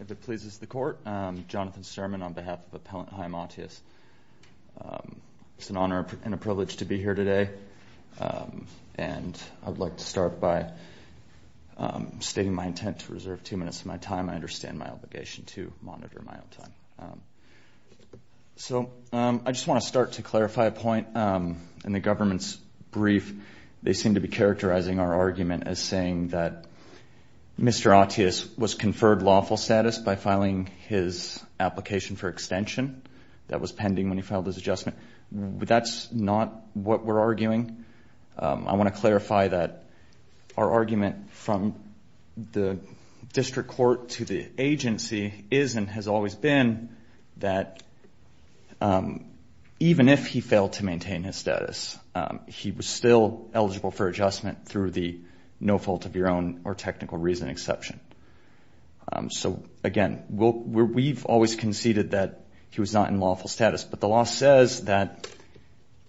If it pleases the Court, Jonathan Sturman, on behalf of Appellant Haim Attias, on behalf It's an honor and a privilege to be here today. And I'd like to start by stating my intent to reserve two minutes of my time. I understand my obligation to monitor my own time. So I just want to start to clarify a point. In the government's brief, they seem to be characterizing our argument as saying that Mr. for extension that was pending when he filed his adjustment. That's not what we're arguing. I want to clarify that our argument from the district court to the agency is and has always been that even if he failed to maintain his status, he was still eligible for adjustment through the no fault of your own or technical reason exception. So, again, we've always conceded that he was not in lawful status. But the law says that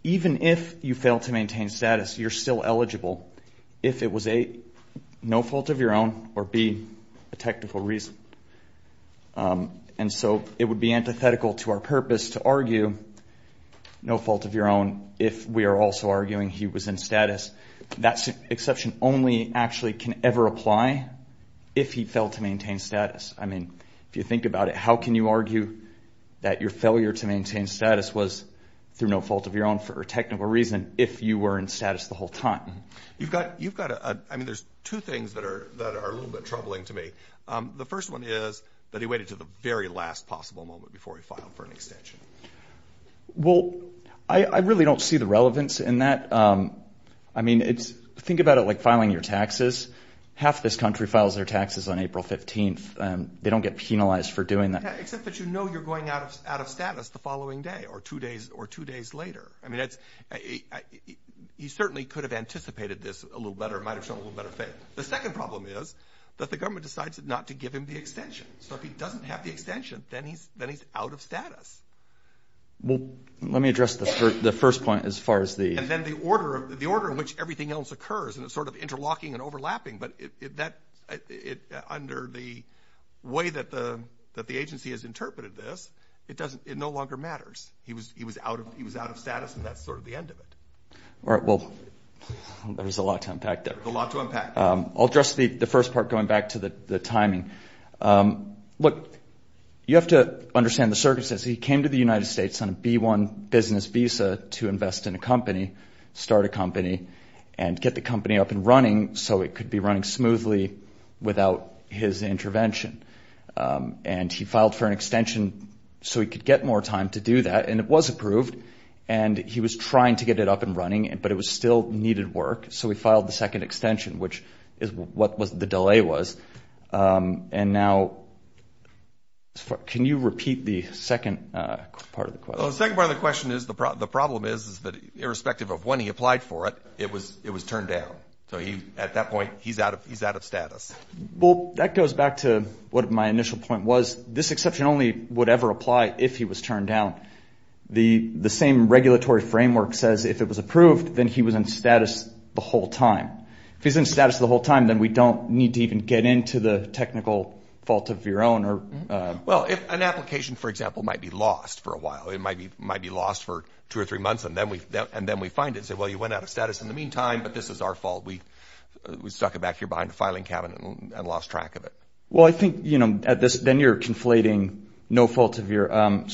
even if you fail to maintain status, you're still eligible if it was a no fault of your own or be a technical reason. And so it would be antithetical to our purpose to argue no fault of your own if we are also arguing he was in status. That exception only actually can ever apply if he failed to maintain status. I mean, if you think about it, how can you argue that your failure to maintain status was through no fault of your own for a technical reason if you were in status the whole time? You've got you've got I mean, there's two things that are that are a little bit troubling to me. The first one is that he waited to the very last possible moment before he filed for an extension. Well, I really don't see the relevance in that. I mean, it's think about it like filing your taxes. Half this country files their taxes on April 15th. They don't get penalized for doing that. Except that, you know, you're going out of out of status the following day or two days or two days later. I mean, that's he certainly could have anticipated this a little better, might have shown a little better faith. The second problem is that the government decides not to give him the extension. So if he doesn't have the extension, then he's then he's out of status. Well, let me address the first point as far as the. And then the order of the order in which everything else occurs and it's sort of interlocking and overlapping. But that it under the way that the that the agency has interpreted this, it doesn't it no longer matters. He was he was out of he was out of status. And that's sort of the end of it. All right. Well, there's a lot to unpack there. A lot to unpack. I'll address the first part going back to the timing. Look, you have to understand the circumstances. He came to the United States on a B1 business visa to invest in a company. Start a company and get the company up and running so it could be running smoothly without his intervention. And he filed for an extension so he could get more time to do that. And it was approved and he was trying to get it up and running. But it was still needed work. So he filed the second extension, which is what was the delay was. And now can you repeat the second part of the question? The second part of the question is the problem is that irrespective of when he applied for it, it was it was turned down. So he at that point, he's out of he's out of status. Well, that goes back to what my initial point was. This exception only would ever apply if he was turned down. The the same regulatory framework says if it was approved, then he was in status the whole time. If he's in status the whole time, then we don't need to even get into the technical fault of your own. Well, if an application, for example, might be lost for a while, it might be might be lost for two or three months. And then we and then we find it. So, well, you went out of status in the meantime. But this is our fault. We we stuck it back here behind the filing cabinet and lost track of it. Well, I think, you know, at this then you're conflating no fault of your own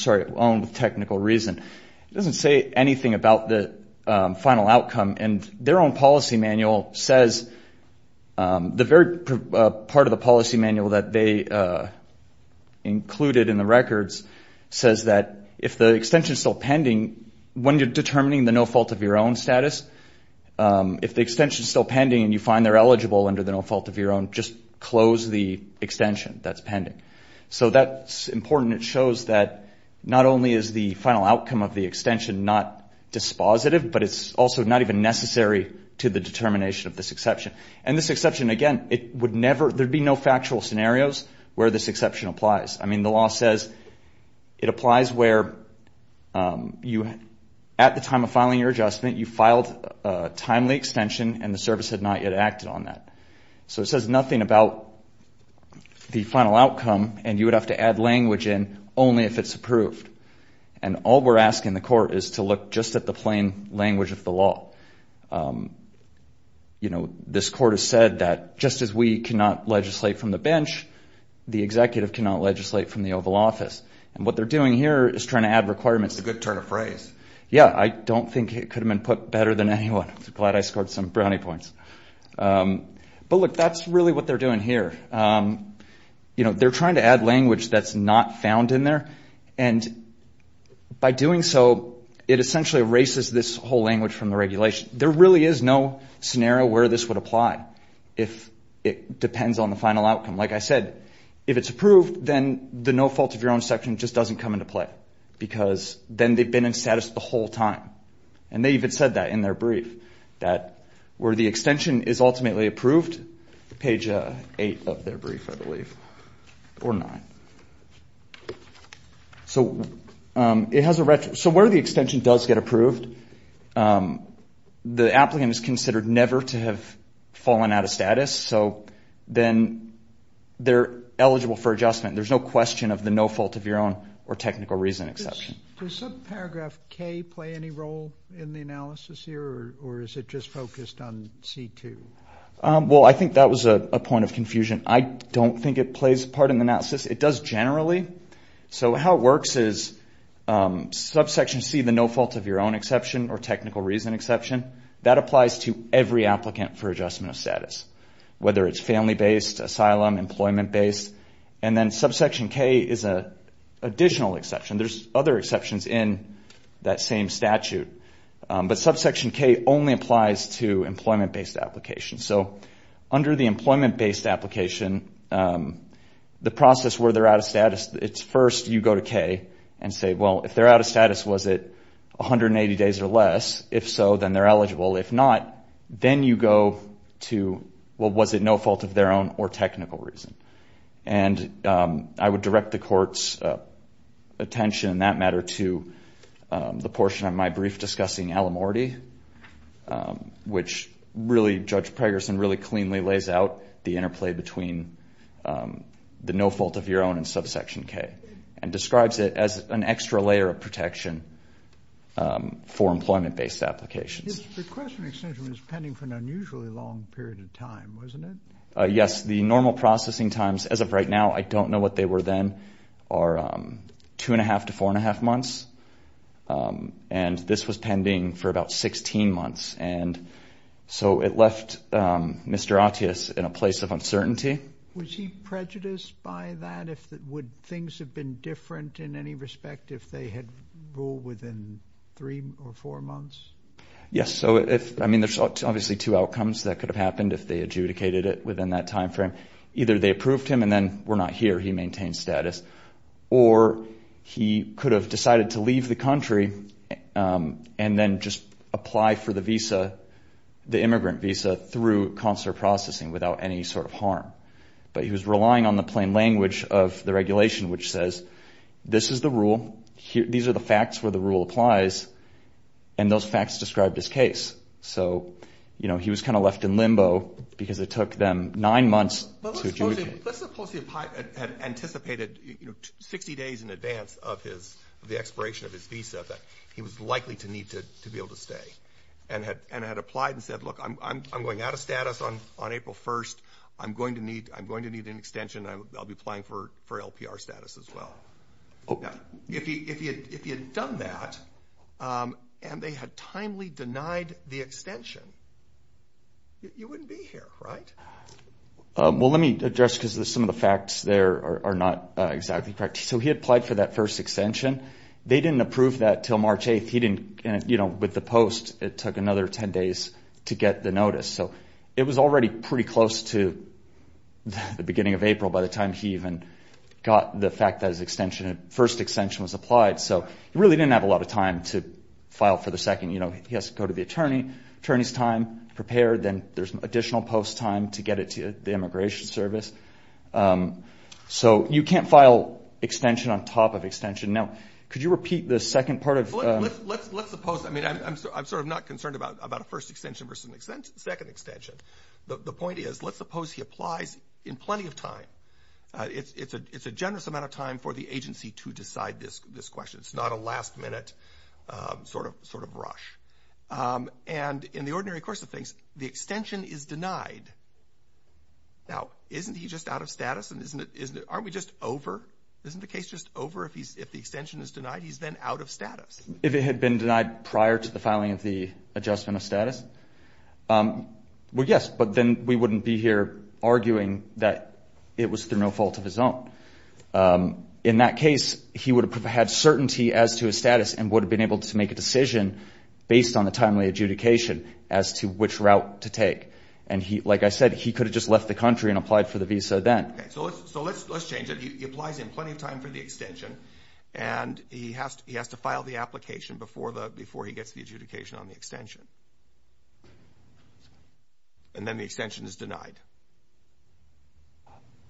technical reason. It doesn't say anything about the final outcome. And their own policy manual says the very part of the policy manual that they included in the records says that if the extension is still pending, when you're determining the no fault of your own status, if the extension is still pending and you find they're eligible under the no fault of your own, just close the extension that's pending. So that's important. It shows that not only is the final outcome of the extension not dispositive, but it's also not even necessary to the determination of this exception. And this exception, again, it would never there'd be no factual scenarios where this exception applies. I mean, the law says it applies where you at the time of filing your adjustment, you filed a timely extension and the service had not yet acted on that. So it says nothing about the final outcome. And you would have to add language in only if it's approved. And all we're asking the court is to look just at the plain language of the law. You know, this court has said that just as we cannot legislate from the bench, the executive cannot legislate from the Oval Office. And what they're doing here is trying to add requirements. It's a good turn of phrase. Yeah, I don't think it could have been put better than anyone. Glad I scored some brownie points. But look, that's really what they're doing here. You know, they're trying to add language that's not found in there. And by doing so, it essentially erases this whole language from the regulation. There really is no scenario where this would apply if it depends on the final outcome. Like I said, if it's approved, then the no fault of your own section just doesn't come into play. Because then they've been in status the whole time. And they even said that in their brief, that where the extension is ultimately approved, page 8 of their brief, I believe, or 9. So where the extension does get approved, the applicant is considered never to have fallen out of status. So then they're eligible for adjustment. There's no question of the no fault of your own or technical reason exception. Does subparagraph K play any role in the analysis here? Or is it just focused on C2? Well, I think that was a point of confusion. I don't think it plays a part in the analysis. It does generally. So how it works is subsection C, the no fault of your own exception or technical reason exception, that applies to every applicant for adjustment of status. Whether it's family-based, asylum, employment-based. And then subsection K is an additional exception. There's other exceptions in that same statute. But subsection K only applies to employment-based applications. So under the employment-based application, the process where they're out of status, it's first you go to K and say, well, if they're out of status, was it 180 days or less? If so, then they're eligible. If not, then you go to, well, was it no fault of their own or technical reason? And I would direct the court's attention in that matter to the portion of my brief discussing Alamorty, which really, Judge Preggerson really cleanly lays out the interplay between the no fault of your own and subsection K. And describes it as an extra layer of protection for employment-based applications. His request for an extension was pending for an unusually long period of time, wasn't it? Yes, the normal processing times as of right now, I don't know what they were then, are two and a half to four and a half months. And this was pending for about 16 months. And so it left Mr. Attias in a place of uncertainty. Was he prejudiced by that? Would things have been different in any respect if they had ruled within three or four months? Yes, so if, I mean, there's obviously two outcomes that could have happened if they adjudicated it within that timeframe. Either they approved him and then, we're not here, he maintained status. Or he could have decided to leave the country and then just apply for the visa, the immigrant visa through consular processing without any sort of harm. But he was relying on the plain language of the regulation, which says, this is the rule. These are the facts where the rule applies. And those facts described his case. So he was kind of left in limbo because it took them nine months to adjudicate. Let's suppose he had anticipated 60 days in advance of the expiration of his visa that he was likely to need to be able to stay and had applied and said, look, I'm going out of status on April 1st. I'm going to need an extension. I'll be applying for LPR status as well. If he had done that and they had timely denied the extension, you wouldn't be here, right? Well, let me address, because some of the facts there are not exactly correct. So he applied for that first extension. They didn't approve that till March 8th. He didn't, you know, with the post, it took another 10 days to get the notice. So it was already pretty close to the beginning of April by the time he even got the fact that his extension, first extension was applied. So he really didn't have a lot of time to file for the second. You know, he has to go to the attorney, attorney's time, prepare, then there's additional post time to get it to the immigration service. So you can't file extension on top of extension. Now, could you repeat the second part of- Well, let's suppose, I mean, I'm sort of not concerned about a first extension versus a second extension. The point is, let's suppose he applies in plenty of time. It's a generous amount of time for the agency to decide this question. It's not a last minute sort of rush. And in the ordinary course of things, the extension is denied. Now, isn't he just out of status? And isn't it, aren't we just over? Isn't the case just over if the extension is denied? He's then out of status. If it had been denied prior to the filing of the adjustment of status? Well, yes, but then we wouldn't be here arguing that it was through no fault of his own. In that case, he would have had certainty as to his status and would have been able to make a decision based on the timely adjudication as to which route to take. And he, like I said, he could have just left the country and applied for the visa then. Okay, so let's change it. He applies in plenty of time for the extension and he has to file the application before he gets the adjudication on the extension. And then the extension is denied.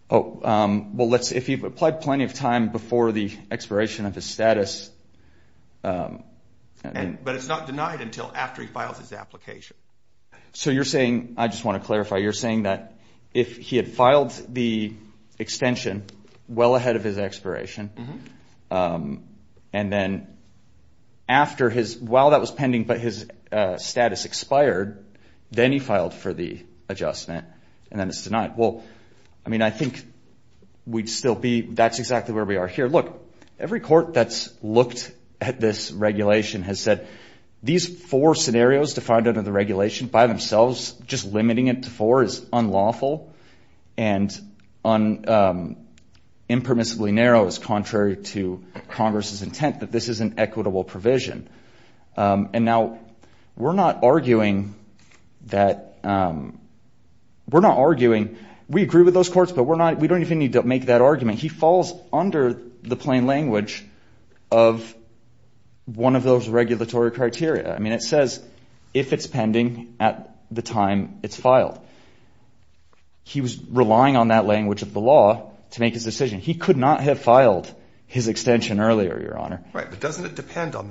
Oh, well, let's, if he applied plenty of time before the expiration of his status. But it's not denied until after he files his application. So you're saying, I just want to clarify, you're saying that if he had filed the extension well ahead of his expiration and then after his, while that was pending, but his status expired, then he filed for the adjustment and then it's denied. Well, I mean, I think we'd still be, that's exactly where we are here. Look, every court that's looked at this regulation has said these four scenarios defined under the regulation by themselves, just limiting it to four is unlawful and impermissibly narrow as contrary to Congress's intent that this is an equitable provision. And now we're not arguing that, we're not arguing, we agree with those courts, but we're not, we don't even need to make that argument. He falls under the plain language of one of those regulatory criteria. I mean, it says, if it's pending at the time it's filed, he was relying on that language of the law to make his decision. He could not have filed his extension earlier, Your Honor. Right, but doesn't it depend on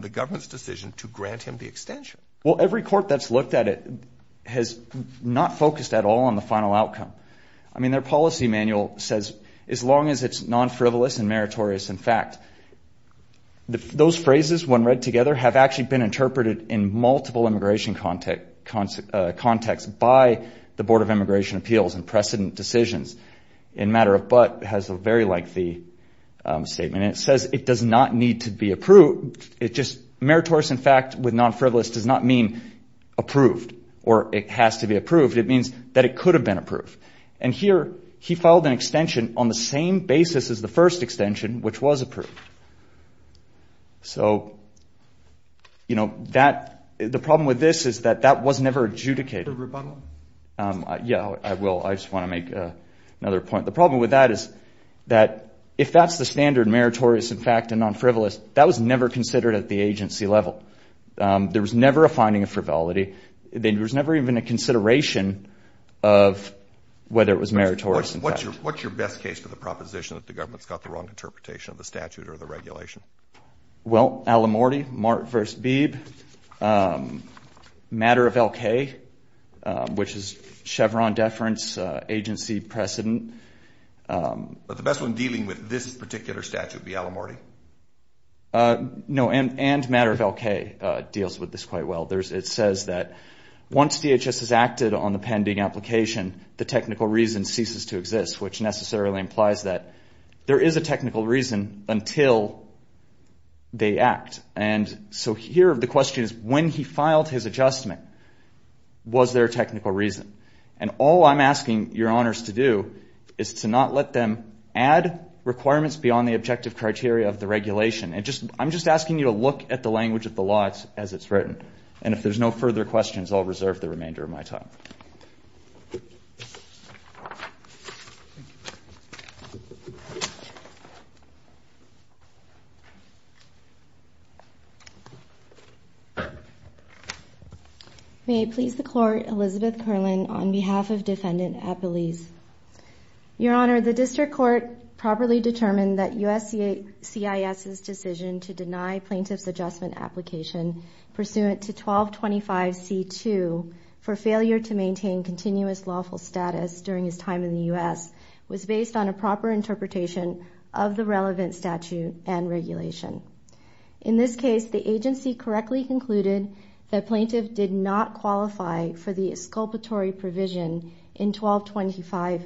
the government's decision to grant him the extension? Well, every court that's looked at it, has not focused at all on the final outcome. I mean, their policy manual says, as long as it's non-frivolous and meritorious in fact, those phrases when read together have actually been interpreted in multiple immigration context by the Board of Immigration Appeals and precedent decisions. In matter of but has a very lengthy statement. It says it does not need to be approved. It just meritorious in fact with non-frivolous does not mean approved. It has to be approved. It means that it could have been approved. And here, he filed an extension on the same basis as the first extension, which was approved. So, you know, the problem with this is that that was never adjudicated. Yeah, I will. I just want to make another point. The problem with that is that if that's the standard meritorious in fact and non-frivolous, that was never considered at the agency level. There was never a finding of frivolity. There was never even a consideration of whether it was meritorious. What's your best case for the proposition that the government's got the wrong interpretation of the statute or the regulation? Well, Alamorty, Mart versus Beeb, matter of LK, which is Chevron deference agency precedent. But the best one dealing with this particular statute would be Alamorty. No, and matter of LK deals with this quite well. It says that once DHS has acted on the pending application, the technical reason ceases to exist, which necessarily implies that there is a technical reason until they act. And so here the question is, when he filed his adjustment, was there a technical reason? And all I'm asking your honors to do is to not let them add requirements beyond the objective criteria of the regulation. And I'm just asking you to look at the language of the law as it's written. If there's no further questions, I'll reserve the remainder of my time. May I please the court, Elizabeth Kerlin, on behalf of Defendant Appeles. Your honor, the district court properly determined that USCIS's decision to deny plaintiff's adjustment application pursuant to 1225 C2 for failure to maintain continuous lawful status during his time in the U.S. was based on a proper interpretation of the relevant statute and regulation. In this case, the agency correctly concluded that plaintiff did not qualify for the exculpatory provision in 1255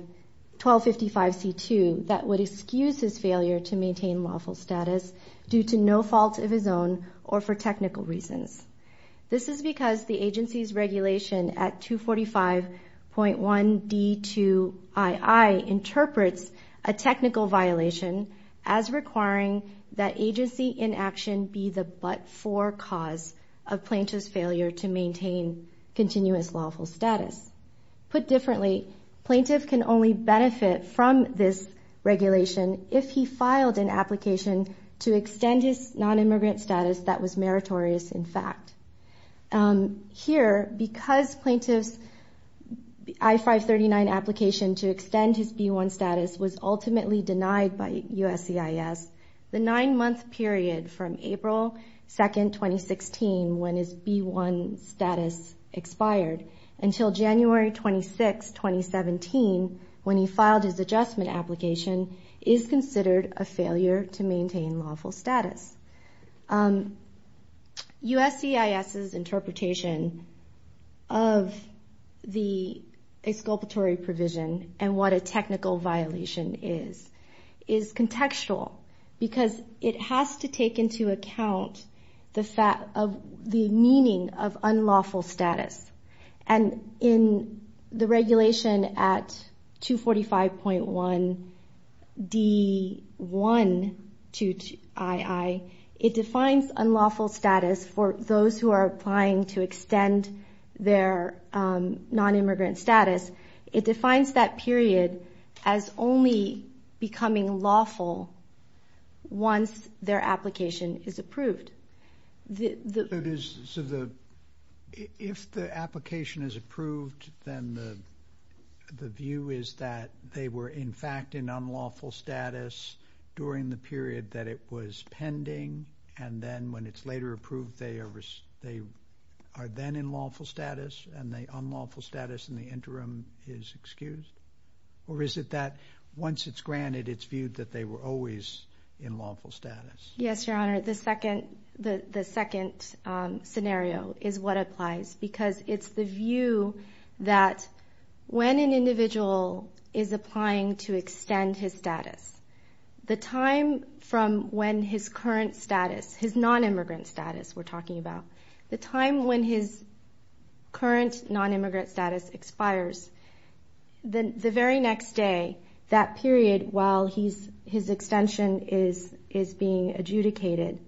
C2 that would excuse his failure to maintain lawful status due to no fault of his own or for technical reasons. This is because the agency's regulation at 245.1 D2 II interprets a technical violation as requiring that agency inaction be the but-for cause of plaintiff's failure to maintain continuous lawful status. Put differently, plaintiff can only benefit from this regulation if he filed an application to extend his non-immigrant status that was meritorious in fact. Here, because plaintiff's I-539 application to extend his B1 status was ultimately denied by USCIS, the nine-month period from April 2, 2016 when his B1 status expired until January 26, 2017 when he filed his adjustment application is considered a failure to maintain lawful status. USCIS's interpretation of the exculpatory provision and what a technical violation is is contextual because it has to take into account the meaning of unlawful status. And in the regulation at 245.1 D1 II, it defines unlawful status for those who are applying to extend their non-immigrant status. It defines that period as only becoming lawful once their application is approved. So if the application is approved, then the view is that they were in fact in unlawful status during the period that it was pending. And then when it's later approved, they are then in lawful status and the unlawful status in the interim is excused? Or is it that once it's granted, it's viewed that they were always in lawful status? Yes, Your Honor. The second scenario is what applies because it's the view that when an individual is applying to extend his status, the time from when his current status, his non-immigrant status we're talking about, the time when his current non-immigrant status expires, then the very next day, that period while his extension is being adjudicated,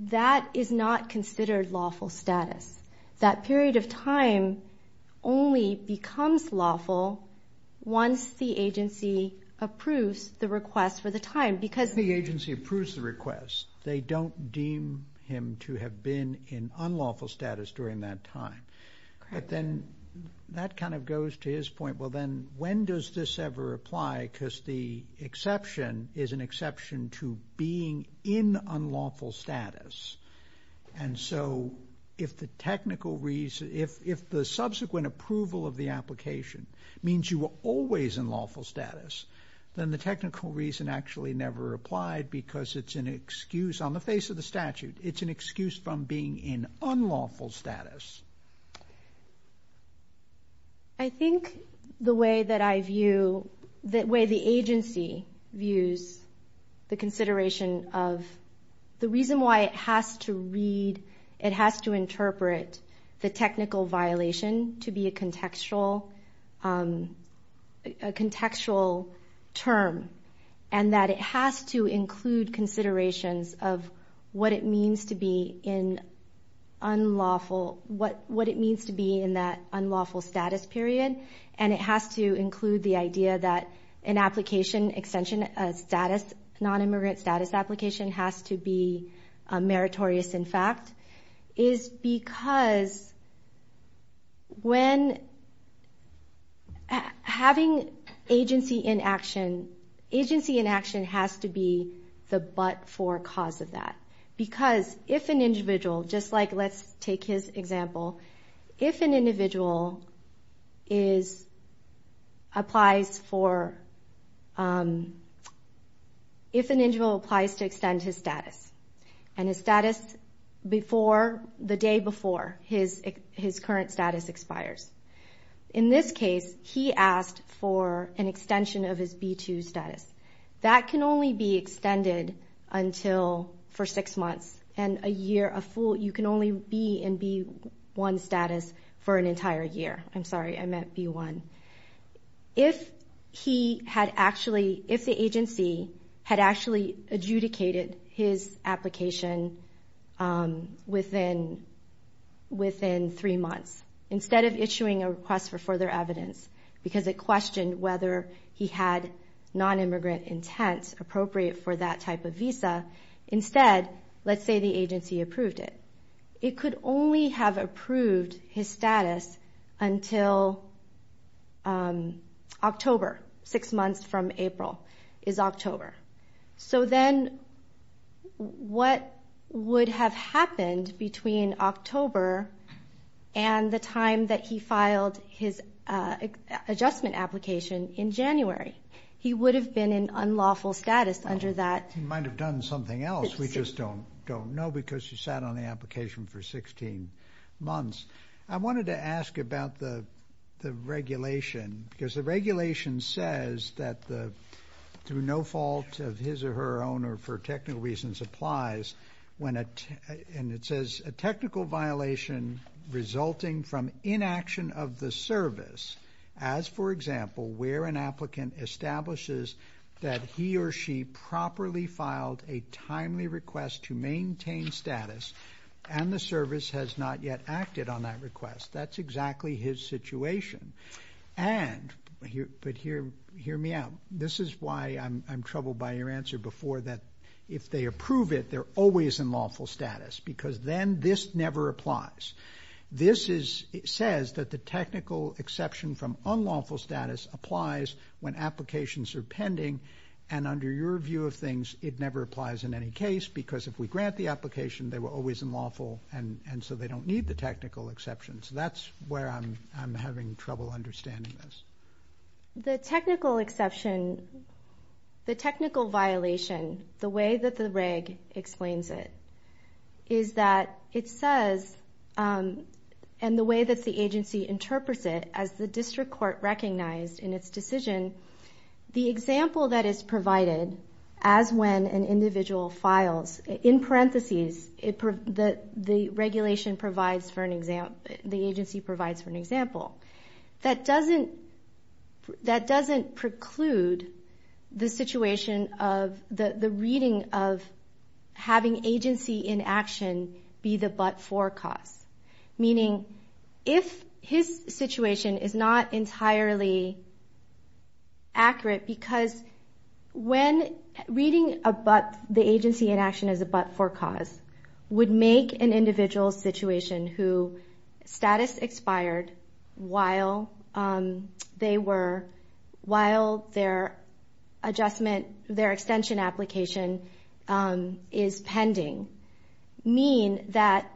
that is not considered lawful status. That period of time only becomes lawful once the agency approves the request for the time. Because the agency approves the request, they don't deem him to have been in unlawful status during that time. But then that kind of goes to his point. Well, then when does this ever apply? Because the exception is an exception to being in unlawful status. And so if the technical reason, if the subsequent approval of the application means you were always in lawful status, then the technical reason actually never applied because it's an excuse on the face of the statute. It's an excuse from being in unlawful status. I think the way that I view, the way the agency views the consideration of the reason why it has to read, it has to interpret the technical violation to be a contextual term. And that it has to include considerations of what it means to be in unlawful, what it means to be in that unlawful status period. And it has to include the idea that an application extension, a non-immigrant status application has to be meritorious, in fact, is because when having agency in action, agency in action has to be the but for cause of that. Because if an individual, just like let's take his example, if an individual is, applies for, if an individual applies to extend his status and his status before, the day before his current status expires. In this case, he asked for an extension of his B2 status. That can only be extended until for six months and a year, a full, you can only be in B1 status for an entire year. I'm sorry, I meant B1. If he had actually, if the agency had actually adjudicated his application within three months, instead of issuing a request for further evidence, because it questioned whether he had non-immigrant intent appropriate for that type of visa. Instead, let's say the agency approved it. It could only have approved his status until October, six months from April is October. So then what would have happened between October and the time that he filed his adjustment application in January? He would have been in unlawful status under that. He might've done something else. We just don't know because he sat on the application for 16 months. I wanted to ask about the regulation because the regulation says that through no fault of his or her owner for technical reasons applies. And it says a technical violation resulting from inaction of the service. As for example, where an applicant establishes that he or she properly filed a timely request to maintain status and the service has not yet acted on that request. That's exactly his situation. And, but hear me out. This is why I'm troubled by your answer before that if they approve it, they're always in lawful status because then this never applies. This says that the technical exception from unlawful status applies when applications are pending. And under your view of things, it never applies in any case because if we grant the application, they were always in lawful and so they don't need the technical exceptions. That's where I'm having trouble understanding this. The technical exception, the technical violation, the way that the reg explains it is that it says, and the way that the agency interprets it as the district court recognized in its decision, the example that is provided as when an individual files in parentheses, that the regulation provides for an example, the agency provides for an example. That doesn't preclude the situation of the reading of having agency in action be the but-for cause. Meaning if his situation is not entirely accurate because when reading a but, the agency in action is a but-for cause, would make an individual situation who status expired while they were, while their adjustment, their extension application is pending, mean that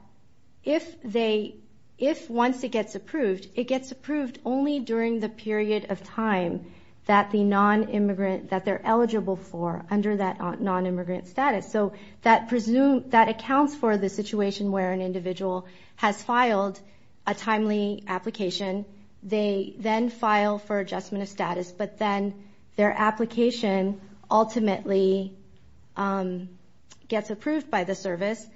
if they, if once it gets approved, it gets approved only during the period of time that the non-immigrant, that they're eligible for under that non-immigrant status. So that presume, that accounts for the situation where an individual has filed a timely application. They then file for adjustment of status, but then their application ultimately gets approved by the service.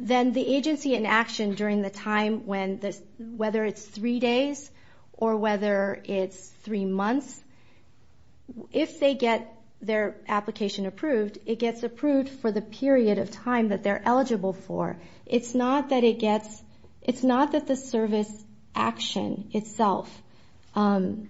Then the agency in action during the time when this, whether it's three days or whether it's three months, if they get their application approved, it gets approved for the period of time that they're eligible for. It's not that it gets, it's not that the service action itself in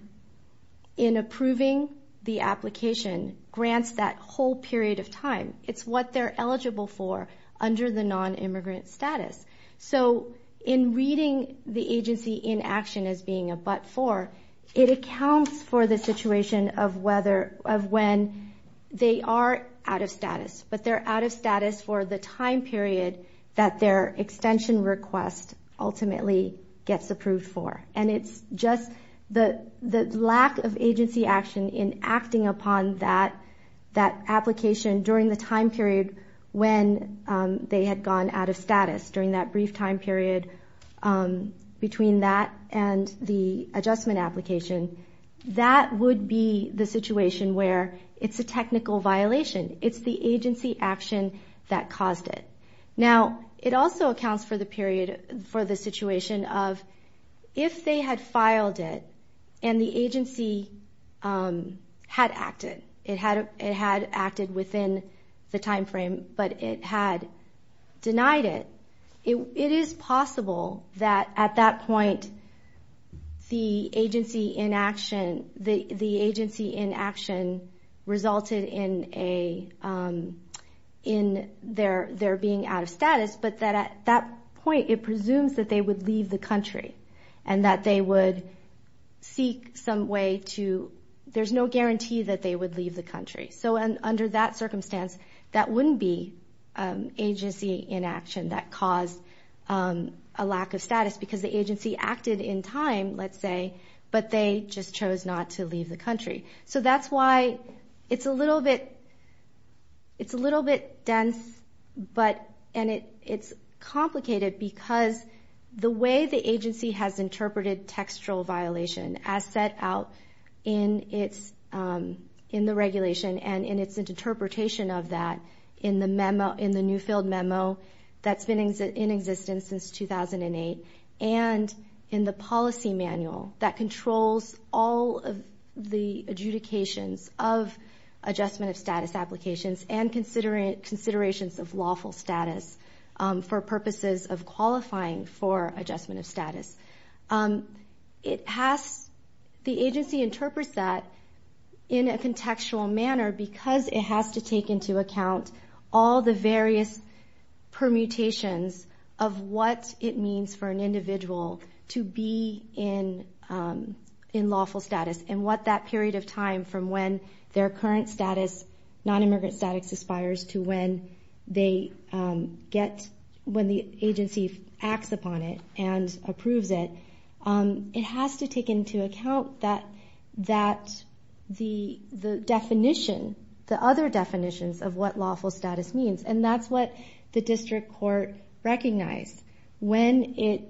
approving the application grants that whole period of time. It's what they're eligible for under the non-immigrant status. So in reading the agency in action as being a but-for, it accounts for the situation of whether, of when they are out of status, but they're out of status for the time period that their extension request ultimately gets approved for. And it's just the lack of agency action in acting upon that application during the time period when they had gone out of status, during that brief time period between that and the adjustment application. That would be the situation where it's a technical violation. It's the agency action that caused it. Now, it also accounts for the period, for the situation of if they had filed it and the agency had acted, it had acted within the time frame, but it had denied it, it is possible that at that point the agency in action resulted in their being out of status, but that at that point, it presumes that they would leave the country and that they would seek some way to, there's no guarantee that they would leave the country. So under that circumstance, that wouldn't be agency inaction that caused a lack of status because the agency acted in time, let's say, but they just chose not to leave the country. So that's why it's a little bit dense and it's complicated because the way the agency has interpreted textual violation as set out in the regulation and in its interpretation of that in the Newfield memo that's been in existence since 2008, and in the policy manual that controls all of the adjudications of adjustment of status applications and considerations of lawful status for purposes of qualifying for adjustment of status. It has, the agency interprets that in a contextual manner because it has to take into account all the various permutations of what it means for an individual to be in lawful status and what that period of time from when their current status, non-immigrant status aspires to when they get, when the agency acts upon it and approves it. It has to take into account that the definition, the other definitions of what lawful status means and that's what the district court recognized when it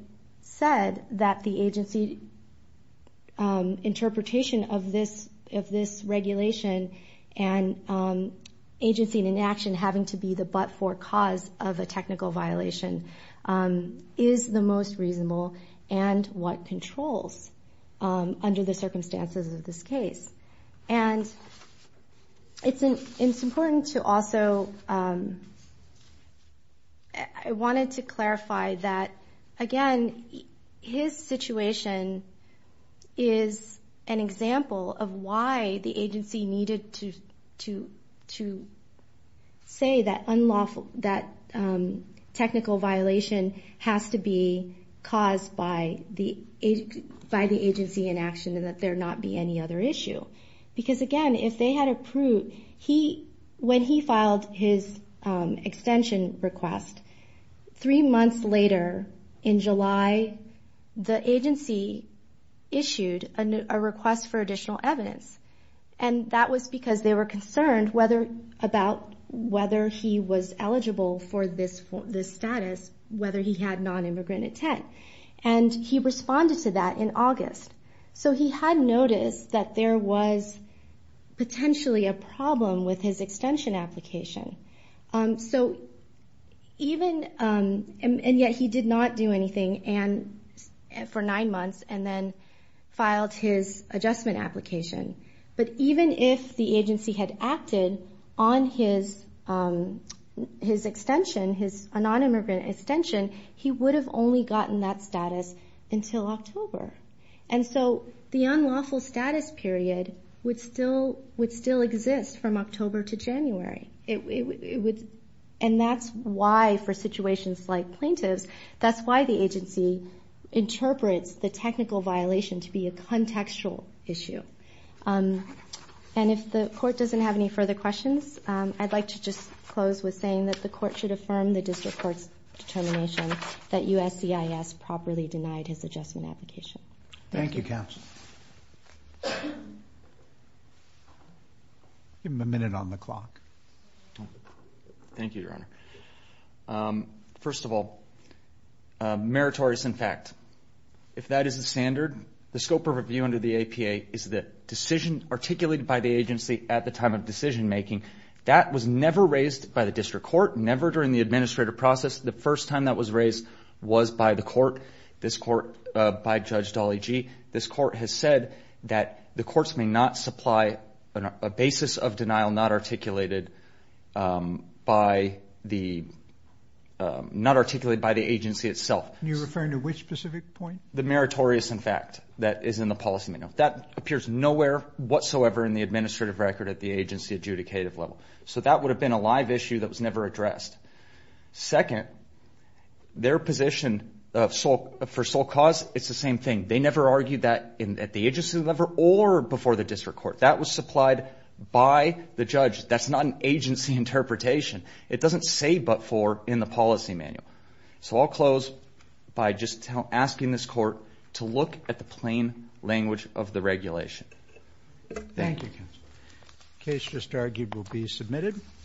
said that the agency interpretation of this regulation and agency and inaction having to be the but-for cause of a technical violation is the most reasonable and what controls under the circumstances of this case. And it's important to also that I wanted to clarify that again, his situation is an example of why the agency needed to say that technical violation has to be caused by the agency inaction and that there not be any other issue. Because again, if they had approved, he, when he filed his extension request, three months later in July, the agency issued a request for additional evidence and that was because they were concerned whether, about whether he was eligible for this status, whether he had non-immigrant intent and he responded to that in August. So he had noticed that there was potentially a problem with his extension application. So even, and yet he did not do anything for nine months and then filed his adjustment application. But even if the agency had acted on his extension, his non-immigrant extension, he would have only gotten that status until October. And so the unlawful status period would still exist from October to January. And that's why, for situations like plaintiffs, that's why the agency interprets the technical violation to be a contextual issue. And if the court doesn't have any further questions, I'd like to just close with saying that the court should affirm the district court's determination that USCIS properly denied his adjustment application. Thank you, counsel. Give him a minute on the clock. Thank you, your honor. First of all, meritorious in fact. If that is the standard, the scope of review under the APA is the decision articulated by the agency at the time of decision making. That was never raised by the district court, never during the administrative process. The first time that was raised was by the court, this court, by Judge Dolly Gee. This court has said that the courts may not supply a basis of denial not articulated by the, not articulated by the agency itself. And you're referring to which specific point? The meritorious in fact that is in the policy manual. That appears nowhere whatsoever in the administrative record at the agency adjudicative level. So that would have been a live issue that was never addressed. Second, their position for sole cause, it's the same thing. They never argued that at the agency level or before the district court. That was supplied by the judge. That's not an agency interpretation. It doesn't say but for in the policy manual. So I'll close by just asking this court to look at the plain language of the regulation. Thank you, counsel. The case just argued will be submitted.